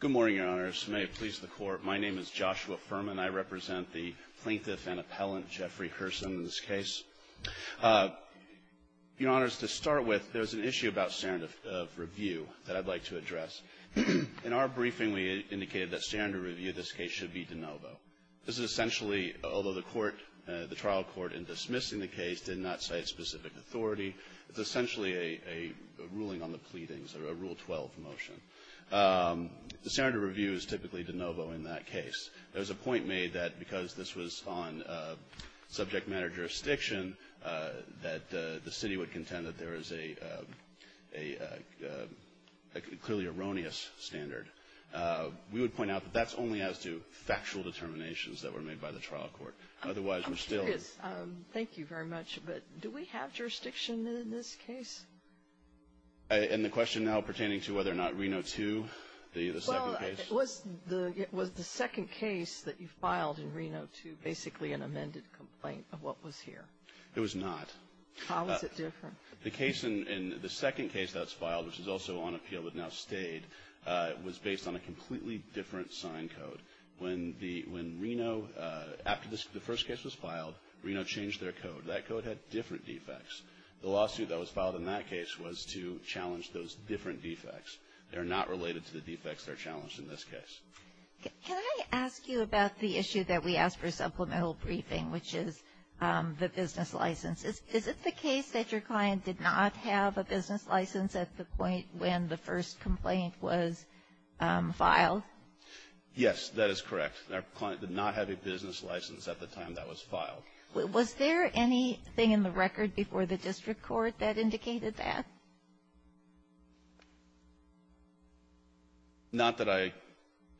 Good morning, Your Honors. May it please the Court, my name is Joshua Furman. I represent the Plaintiff and Appellant Jeffrey Herson in this case. Your Honors, to start with, there's an issue about standard of review that I'd like to address. In our briefing, we indicated that standard of review in this case should be de novo. This is essentially, although the court, the trial court in dismissing the case did not cite specific authority, it's essentially a ruling on the pleadings, a Rule 12 motion. The standard of review is typically de novo in that case. There's a point made that because this was on subject matter jurisdiction, that the city would contend that there is a clearly erroneous standard. We would point out that that's only as to factual determinations that were made by the trial court. Otherwise, we're still- I'm curious, thank you very much, but do we have jurisdiction in this case? And the question now pertaining to whether or not we have jurisdiction in Reno 2, the second case? Well, was the second case that you filed in Reno 2 basically an amended complaint of what was here? It was not. How was it different? The case in the second case that's filed, which is also on appeal but now stayed, was based on a completely different sign code. When Reno, after the first case was filed, Reno changed their code. That code had different defects. The lawsuit that was filed in that case was to challenge those different defects. They're not related to the defects that are challenged in this case. Can I ask you about the issue that we asked for supplemental briefing, which is the business license? Is it the case that your client did not have a business license at the point when the first complaint was filed? Yes, that is correct. Our client did not have a business license at the time that was filed. Was there anything in the record before the district court that indicated that? Not that I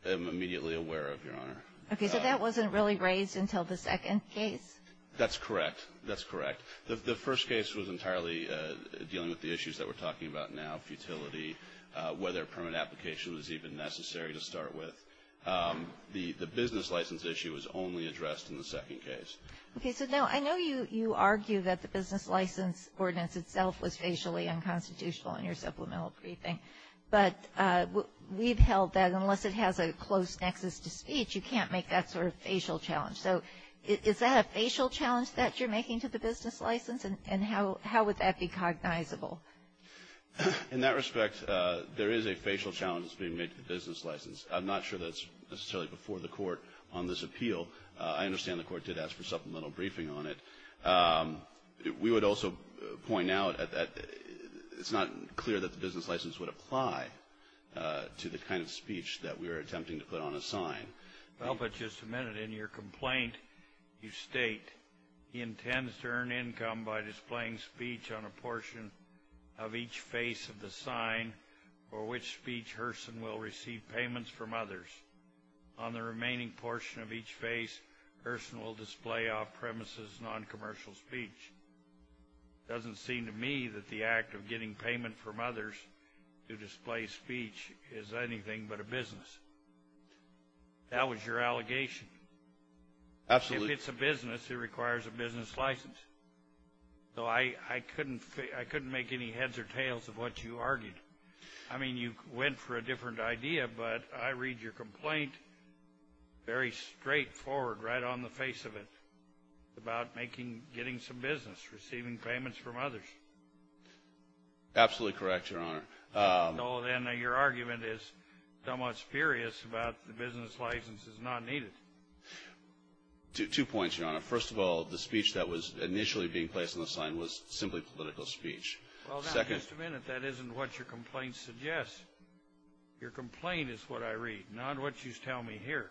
am immediately aware of, Your Honor. Okay, so that wasn't really raised until the second case? That's correct. That's correct. The first case was entirely dealing with the issues that we're talking about now, futility, whether a permit application was even necessary to start with. The business license issue was only addressed in the second case. Okay, so now I know you argue that the business license ordinance itself was facially unconstitutional in your supplemental briefing. But we've held that unless it has a close nexus to speech, you can't make that sort of facial challenge. So is that a facial challenge that you're making to the business license? And how would that be cognizable? In that respect, there is a facial challenge that's being made to the business license. I'm not sure that's necessarily before the court on this appeal. I understand the court did ask for supplemental briefing on it. We would also point out that it's not clear that the business license would apply to the kind of speech that we were attempting to put on a sign. Well, but just a minute. In your complaint, you state, he intends to earn income by displaying speech on a portion of each face of the sign or which speech Hurston will receive payments from others. On the remaining portion of each face, Hurston will display off-premises, non-commercial speech. Doesn't seem to me that the act of getting payment from others to display speech is anything but a business. That was your allegation. Absolutely. If it's a business, it requires a business license. So I couldn't make any heads or tails of what you argued. I mean, you went for a different idea, but I think it's very straightforward, right on the face of it, about making, getting some business, receiving payments from others. Absolutely correct, Your Honor. So then your argument is somewhat spurious about the business license is not needed. Two points, Your Honor. First of all, the speech that was initially being placed on the sign was simply political speech. Well, now, just a minute. That isn't what your complaint suggests. Your complaint is what I read, not what you tell me here.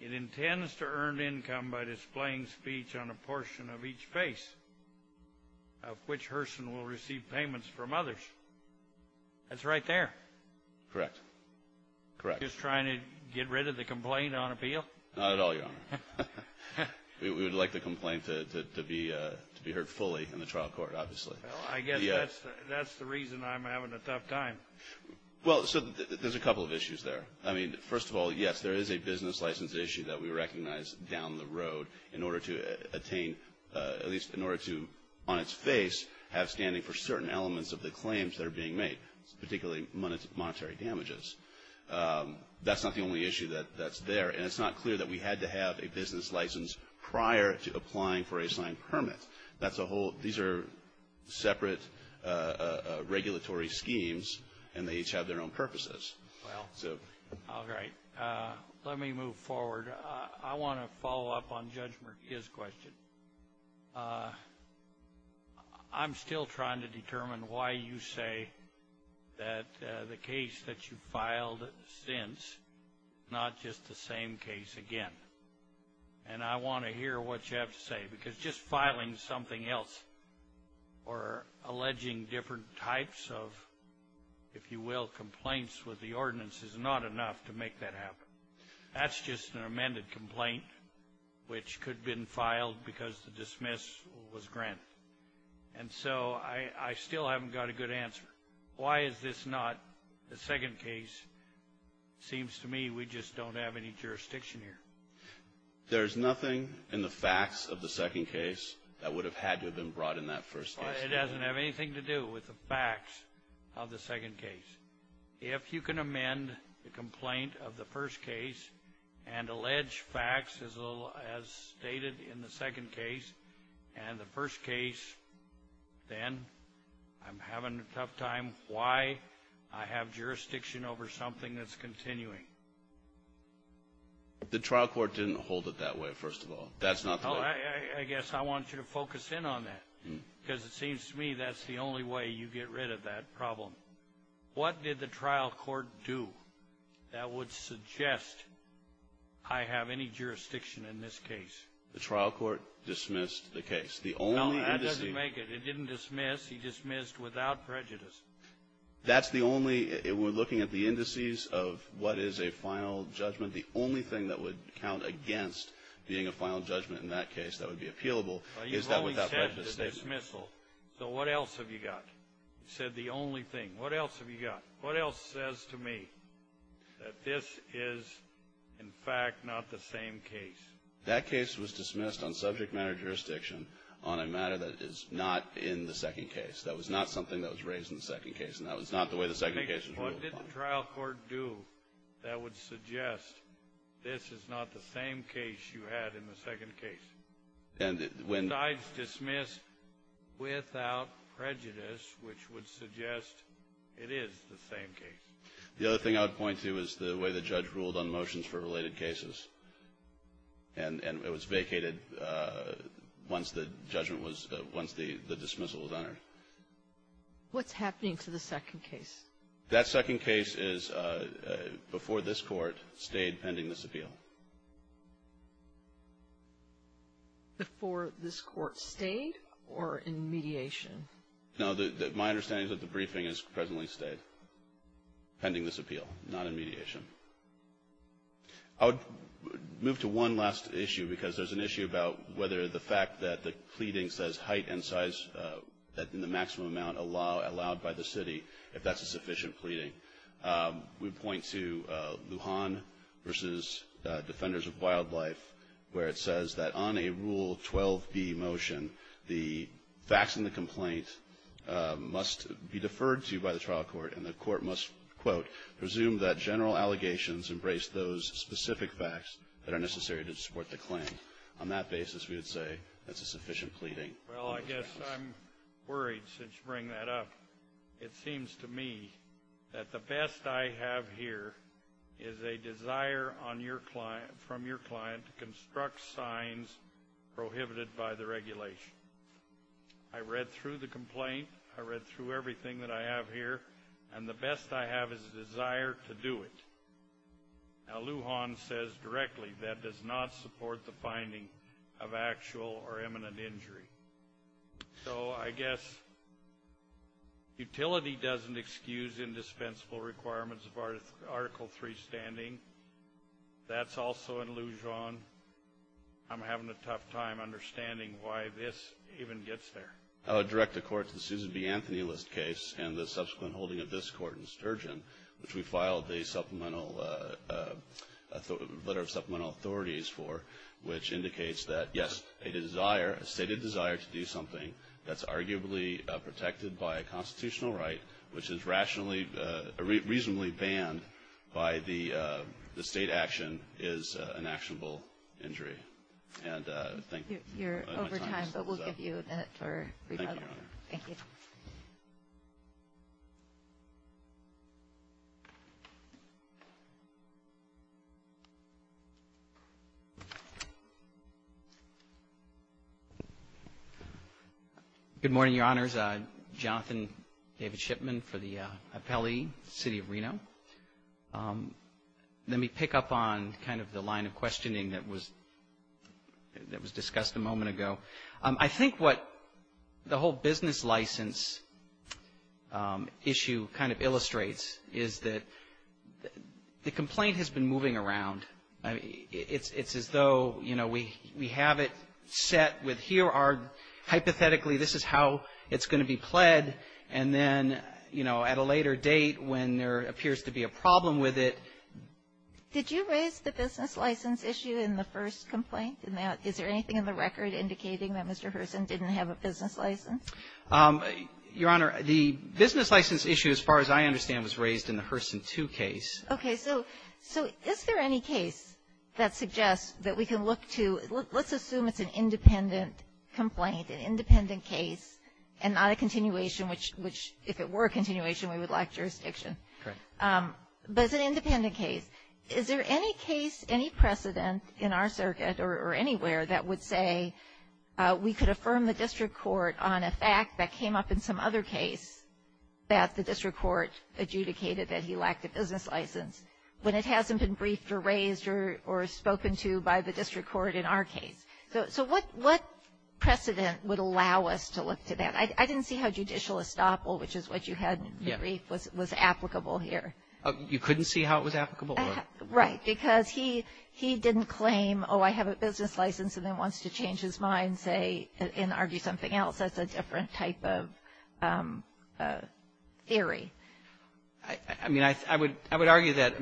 It intends to earn income by displaying speech on a portion of each face, of which Hurston will receive payments from others. That's right there. Correct. Correct. Just trying to get rid of the complaint on appeal? Not at all, Your Honor. We would like the complaint to be heard fully in the trial court, obviously. Well, I guess that's the reason I'm having a tough time. Well, so there's a couple of issues there. I mean, first of all, yes, there is a business license issue that we recognize down the road in order to attain, at least in order to, on its face, have standing for certain elements of the claims that are being made, particularly monetary damages. That's not the only issue that's there, and it's not clear that we had to have a business license prior to applying for a signed permit. These are separate regulatory schemes, and they each have their own purposes. Well, all right. Let me move forward. I want to follow up on Judge Murkia's question. I'm still trying to determine why you say that the case that you filed since is not just the same case again. And I want to hear what you have to say, because just filing something else or alleging different types of, if you will, complaints with the ordinance is not enough to make that happen. That's just an amended complaint, which could have been filed because the dismiss was granted. And so I still haven't got a good answer. Why is this not the second case? Seems to me we just don't have any jurisdiction here. There's nothing in the facts of the second case that would have had to have been brought in that first case. It doesn't have anything to do with the facts of the second case. If you can amend the complaint of the first case and allege facts as stated in the second case and the first case, then I'm having a tough time. Why? I have jurisdiction over something that's continuing. The trial court didn't hold it that way, first of all. That's not the way. I guess I want you to focus in on that, because it seems to me that's the only way you get rid of that problem. What did the trial court do that would suggest I have any jurisdiction in this case? The trial court dismissed the case. The only indice... No, that doesn't make it. It didn't dismiss. He dismissed without prejudice. That's the only... We're looking at the indices of what is a final judgment. The only thing that would count against being a final judgment in that case that would be appealable is that without prejudice. You've always had the dismissal. So what else have you got? You said the only thing. What else have you got? What else says to me that this is, in fact, not the same case? That case was dismissed on subject matter jurisdiction on a matter that is not in the second case. That was not something that was raised in the second case, and that was not the way the second case was ruled upon. What did the trial court do that would suggest this is not the same case you had in the second case? Besides dismiss without prejudice, which would suggest it is the same case. The other thing I would point to is the way the judge ruled on motions for dismissal was honored. What's happening to the second case? That second case is before this court, stayed pending this appeal. Before this court stayed or in mediation? No, my understanding is that the briefing is presently stayed pending this appeal, not in mediation. I would move to one last issue because there's an issue about whether the fact that the pleading says height and size in the maximum amount allowed by the city, if that's a sufficient pleading. We point to Lujan versus Defenders of Wildlife, where it says that on a Rule 12b motion, the facts in the complaint must be deferred to by the trial court, and the court must, quote, presume that general allegations embrace those specific facts that are necessary to support the claim. On that basis, we would say that's a sufficient pleading. Well, I guess I'm worried since you bring that up. It seems to me that the best I have here is a desire from your client to construct signs prohibited by the regulation. I read through the complaint, I read through everything that I have here, and the best I have is a desire to do it. Now, Lujan says directly that does not support the finding of actual or imminent injury. So, I guess utility doesn't excuse indispensable requirements of Article III standing. That's also in Lujan. I'm having a tough time understanding why this even gets there. I would direct the court to the Susan B. Anthony List case and the subsequent holding of this court in Sturgeon, which we filed the letter of supplemental authorities for, which indicates that, yes, a desire, a stated desire to do something that's arguably protected by a constitutional right, which is reasonably banned by the state action, is an actionable injury. And thank you. You're over time, but we'll give you that for rebuttal. Thank you, Your Honor. Thank you. Good morning, Your Honors. Jonathan David Shipman for the Appellee, City of Reno. Let me pick up on kind of the line of questioning that was discussed a moment ago. I think what the whole business license issue kind of illustrates is that the complaint has been moving around. It's as though, you know, we have it set with here are hypothetically this is how it's going to be pled, and then, you know, at a later date when there appears to be a problem with it. Did you raise the business license issue in the first complaint? Is there anything in the record indicating that Mr. Hurson didn't have a business license? Your Honor, the business license issue, as far as I understand, was raised in the Hurson II case. Okay. So is there any case that suggests that we can look to let's assume it's an independent complaint, an independent case, and not a continuation, which if it were a continuation, we would lack jurisdiction. Correct. But it's an independent case. Is there any case, any precedent in our circuit or anywhere that would say we could affirm the district court on a fact that came up in some other case that the district court adjudicated that he lacked a business license when it hasn't been briefed or raised or spoken to by the district court in our case? So what precedent would allow us to look to that? I didn't see how judicial estoppel, which is what you had in the brief, was applicable here. You couldn't see how it was applicable? Right. Because he didn't claim, oh, I have a business license, and then wants to change his mind, say, and argue something else. That's a different type of theory. I mean, I would argue that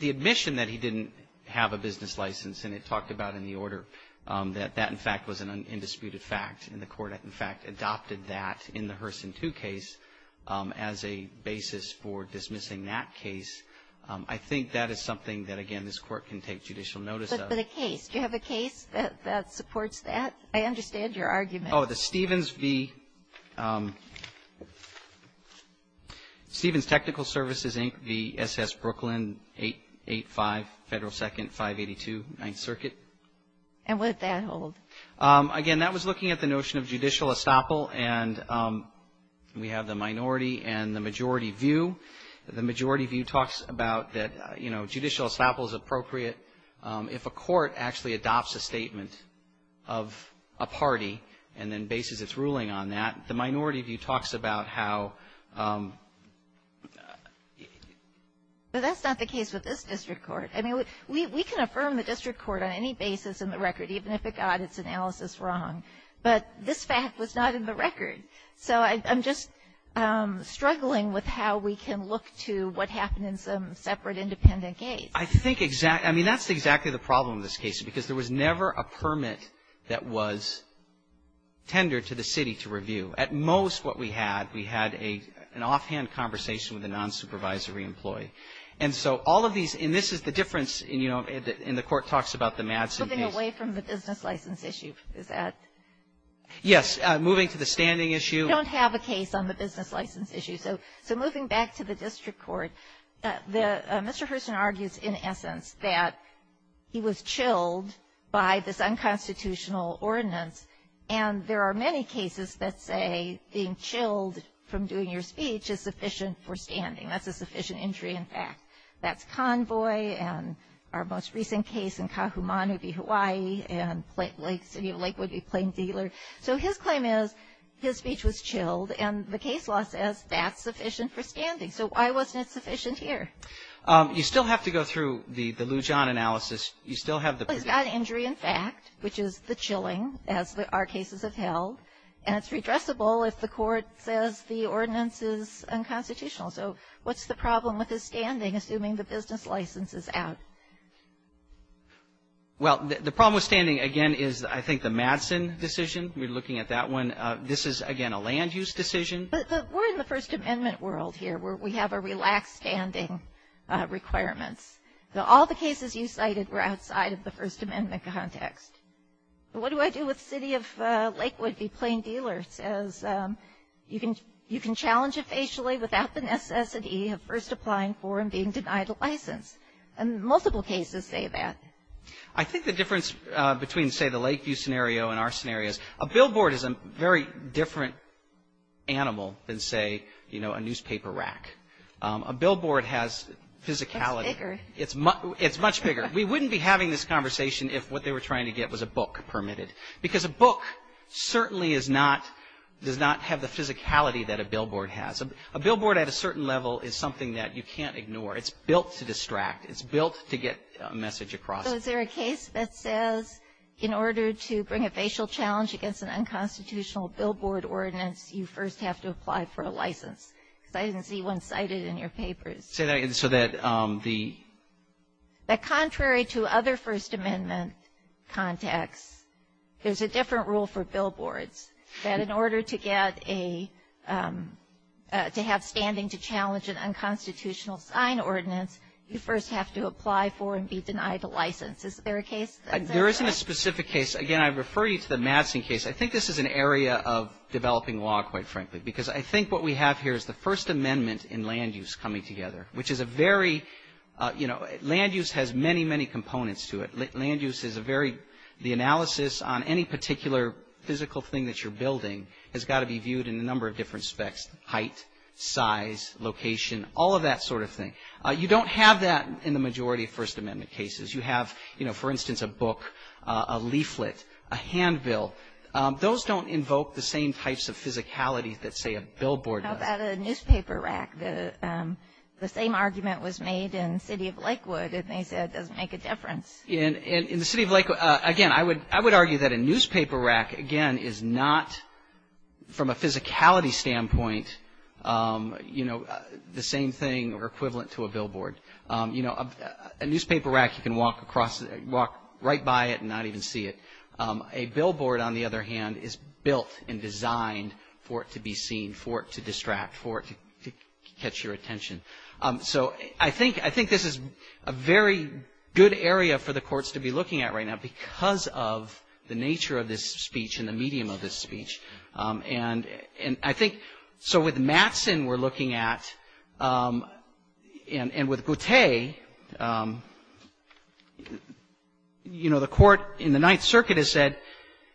the admission that he didn't have a business license, and it talked about in the order, that that, in fact, was an undisputed fact, and the court, in fact, adopted that in the Herson 2 case as a basis for dismissing that case. I think that is something that, again, this court can take judicial notice of. But a case. Do you have a case that supports that? I understand your argument. Oh, the Stevens v. Stevens Technical Services, Inc., v. S.S. Brooklyn, 885 Federal 2nd, 582, 9th Circuit. And what did that hold? Again, that was looking at the notion of judicial estoppel, and we have the minority and the majority view. The majority view talks about that, you know, judicial estoppel is appropriate. If a court actually adopts a statement of a party and then bases its ruling on that, the minority view talks about how. But that's not the case with this district court. I mean, we can affirm the district court on any basis in the record, even if it got its analysis wrong. But this fact was not in the record. So I'm just struggling with how we can look to what happened in some separate, independent case. I think exactly. I mean, that's exactly the problem in this case, because there was never a permit that was tendered to the city to review. At most, what we had, we had an offhand conversation with a non-supervisory employee. And so all of these, and this is the difference, you know, in the court talks about the Madsen case. away from the business license issue, is that? Yes. Moving to the standing issue. We don't have a case on the business license issue. So moving back to the district court, Mr. Herson argues in essence that he was chilled by this unconstitutional ordinance, and there are many cases that say being chilled from doing your speech is sufficient for standing. That's a sufficient injury, in fact. That's Convoy, and our most recent case in Kahumanu v. Hawaii, and Lake City of Lakewood v. Plain Dealer. So his claim is his speech was chilled, and the case law says that's sufficient for standing. So why wasn't it sufficient here? You still have to go through the Lujan analysis. You still have the provision. He's got an injury, in fact, which is the chilling, as our cases have held. And it's redressable if the court says the ordinance is unconstitutional. So what's the problem with his standing, assuming the business license is out? Well, the problem with standing, again, is I think the Madsen decision. We're looking at that one. This is, again, a land-use decision. But we're in the First Amendment world here, where we have a relaxed standing requirements. So all the cases you cited were outside of the First Amendment context. What do I do with City of Lakewood v. Plain Dealer? It says you can challenge it facially without the necessity of first applying for and being denied a license. And multiple cases say that. I think the difference between, say, the Lakeview scenario and our scenario is a billboard is a very different animal than, say, you know, a newspaper rack. A billboard has physicality. It's bigger. It's much bigger. We wouldn't be having this conversation if what they were trying to get was a book permitted. Because a book certainly is not — does not have the physicality that a billboard has. A billboard at a certain level is something that you can't ignore. It's built to distract. It's built to get a message across. So is there a case that says in order to bring a facial challenge against an unconstitutional billboard ordinance, you first have to apply for a license? Because I didn't see one cited in your papers. Say that — so that the — that contrary to other First Amendment contexts, there's a different rule for billboards. That in order to get a — to have standing to challenge an unconstitutional sign ordinance, you first have to apply for and be denied a license. Is there a case that says that? There isn't a specific case. Again, I refer you to the Madsen case. I think this is an area of developing law, quite frankly, because I think what we have here is the First Amendment in land use coming together, which is a very — you know, land use has many, many components to it. Land use is a very — the analysis on any particular physical thing that you're building has got to be viewed in a number of different specs — height, size, location, all of that sort of thing. You don't have that in the majority of First Amendment cases. You have, you know, for instance, a book, a leaflet, a handbill. Those don't invoke the same types of physicality that, say, a billboard does. What about a newspaper rack? The same argument was made in the City of Lakewood, and they said it doesn't make a difference. In the City of Lakewood, again, I would argue that a newspaper rack, again, is not, from a physicality standpoint, you know, the same thing or equivalent to a billboard. You know, a newspaper rack, you can walk across — walk right by it and not even see it. A billboard, on the other hand, is built and designed for it to be seen, for it to distract, for it to catch your attention. So I think — I think this is a very good area for the courts to be looking at right now because of the nature of this speech and the medium of this speech. And I think — so with Mattson, we're looking at, and with Goutei, you know, the court in the Ninth Circuit has said,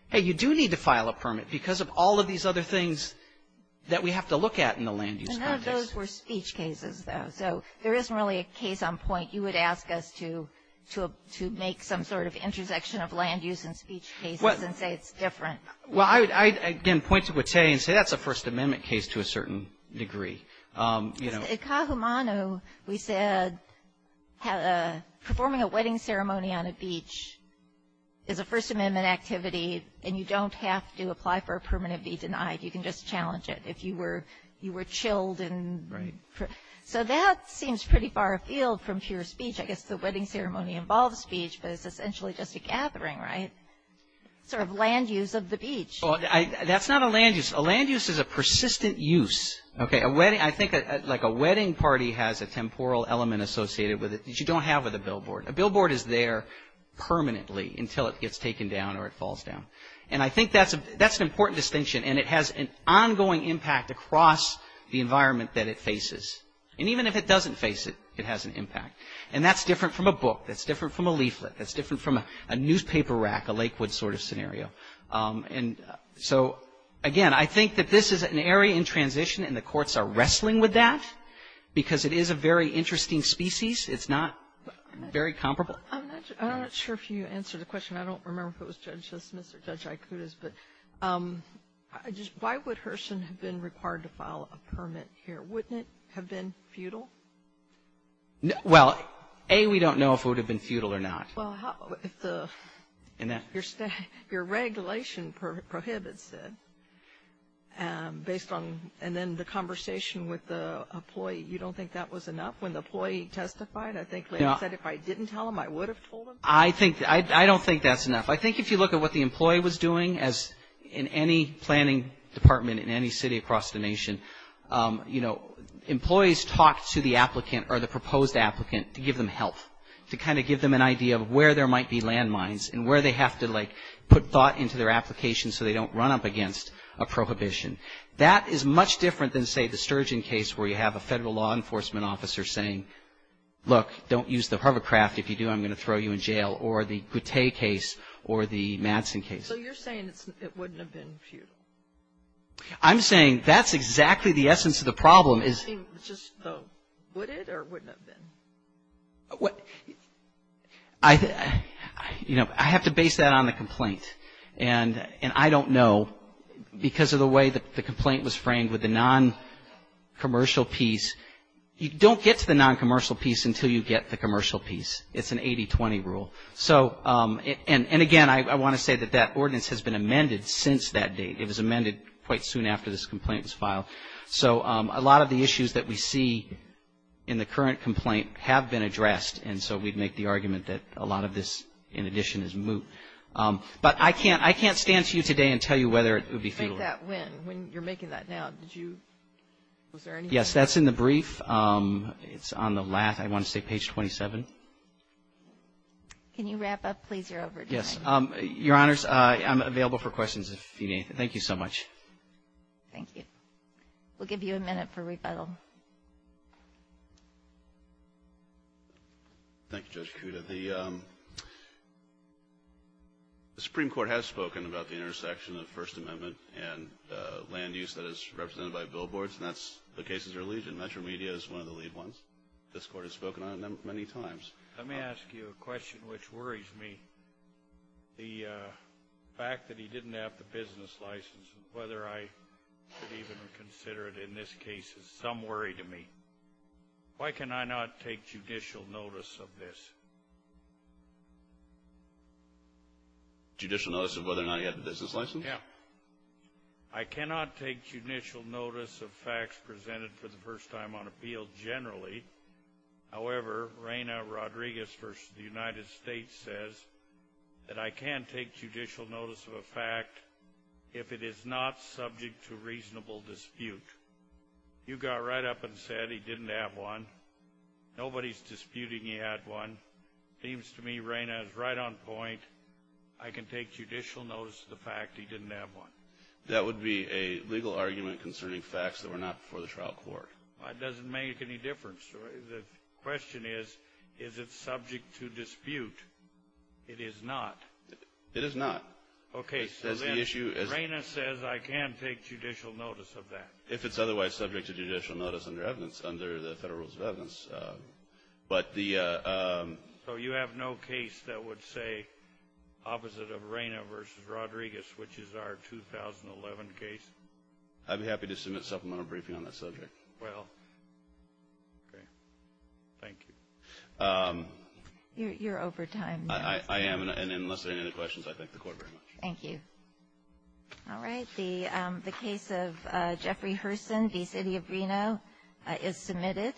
hey, you do need to file a permit because of all of these other things that we have to look at in the land-use context. And none of those were speech cases, though. So there isn't really a case on point. You would ask us to make some sort of intersection of land-use and speech cases and say it's different. Well, I, again, point to Goutei and say that's a First Amendment case to a certain degree, you know. At Kahumanu, we said performing a wedding ceremony on a beach is a First Amendment activity, and you don't have to apply for a permit and be denied. You can just challenge it if you were — you were chilled and — Right. So that seems pretty far afield from pure speech. I guess the wedding ceremony involves speech, but it's essentially just a gathering, right? Sort of land-use of the beach. Well, that's not a land-use. A land-use is a persistent use, okay? A wedding — I think, like, a wedding party has a temporal element associated with it that you don't have with a billboard. A billboard is there permanently until it gets taken down or it falls down. And I think that's an important distinction, and it has an ongoing impact across the environment that it faces. And even if it doesn't face it, it has an impact. And that's different from a book. That's different from a leaflet. That's different from a newspaper rack, a Lakewood sort of scenario. And so, again, I think that this is an area in transition, and the courts are wrestling with that because it is a very interesting species. It's not very comparable. I'm not sure if you answered the question. I don't remember if it was Judge Smith or Judge Aikuda's, but why would Herson have been required to file a permit here? Wouldn't it have been futile? Well, A, we don't know if it would have been futile or not. Well, if the, if your regulation prohibits it, based on, and then the conversation with the employee, you don't think that was enough? When the employee testified, I think he said, if I didn't tell him, I would have told him. I think, I don't think that's enough. I think if you look at what the employee was doing, as in any planning department in any city across the nation, you know, employees talk to the applicant or the proposed applicant to give them help, to kind of give them an idea of where there might be landmines and where they have to, like, put thought into their application so they don't run up against a prohibition. That is much different than, say, the Sturgeon case where you have a federal law enforcement officer saying, look, don't use the hovercraft. If you do, I'm going to throw you in jail, or the Goutte case or the Madsen case. So you're saying it wouldn't have been futile? I think, just, though, would it or wouldn't it have been? Well, I, you know, I have to base that on the complaint. And I don't know, because of the way that the complaint was framed with the non-commercial piece, you don't get to the non-commercial piece until you get the commercial piece. It's an 80-20 rule. So, and again, I want to say that that ordinance has been amended since that date. It was amended quite soon after this complaint was filed. So a lot of the issues that we see in the current complaint have been addressed. And so we'd make the argument that a lot of this, in addition, is moot. But I can't stand to you today and tell you whether it would be futile. When you're making that now, did you, was there anything? Yes, that's in the brief. It's on the last, I want to say, page 27. Can you wrap up, please? You're over time. Yes. Your Honors, I'm available for questions if you need anything. Thank you so much. Thank you. We'll give you a minute for rebuttal. Thank you, Judge Kuda. The Supreme Court has spoken about the intersection of First Amendment and land use that is represented by billboards, and that's the cases they're leading. Metro Media is one of the lead ones. This Court has spoken on it many times. Let me ask you a question which worries me. The fact that he didn't have the business license, whether I should even consider it in this case, is some worry to me. Why can I not take judicial notice of this? Judicial notice of whether or not he had the business license? Yeah. I cannot take judicial notice of facts presented for the first time on appeal generally. However, Reyna Rodriguez versus the United States says that I can't take judicial notice of a fact if it is not subject to reasonable dispute. You got right up and said he didn't have one. Nobody's disputing he had one. Seems to me Reyna is right on point. I can take judicial notice of the fact he didn't have one. That would be a legal argument concerning facts that were not before the trial court. That doesn't make any difference. The question is, is it subject to dispute? It is not. It is not. Okay, so then Reyna says I can't take judicial notice of that. If it's otherwise subject to judicial notice under the federal rules of evidence. But the- So you have no case that would say opposite of Reyna versus Rodriguez, which is our 2011 case? I'd be happy to submit supplemental briefing on that subject. Well, okay. Thank you. You're over time now. I am, and unless there are any questions, I thank the court very much. Thank you. All right, the case of Jeffrey Herson v. City of Reno is submitted.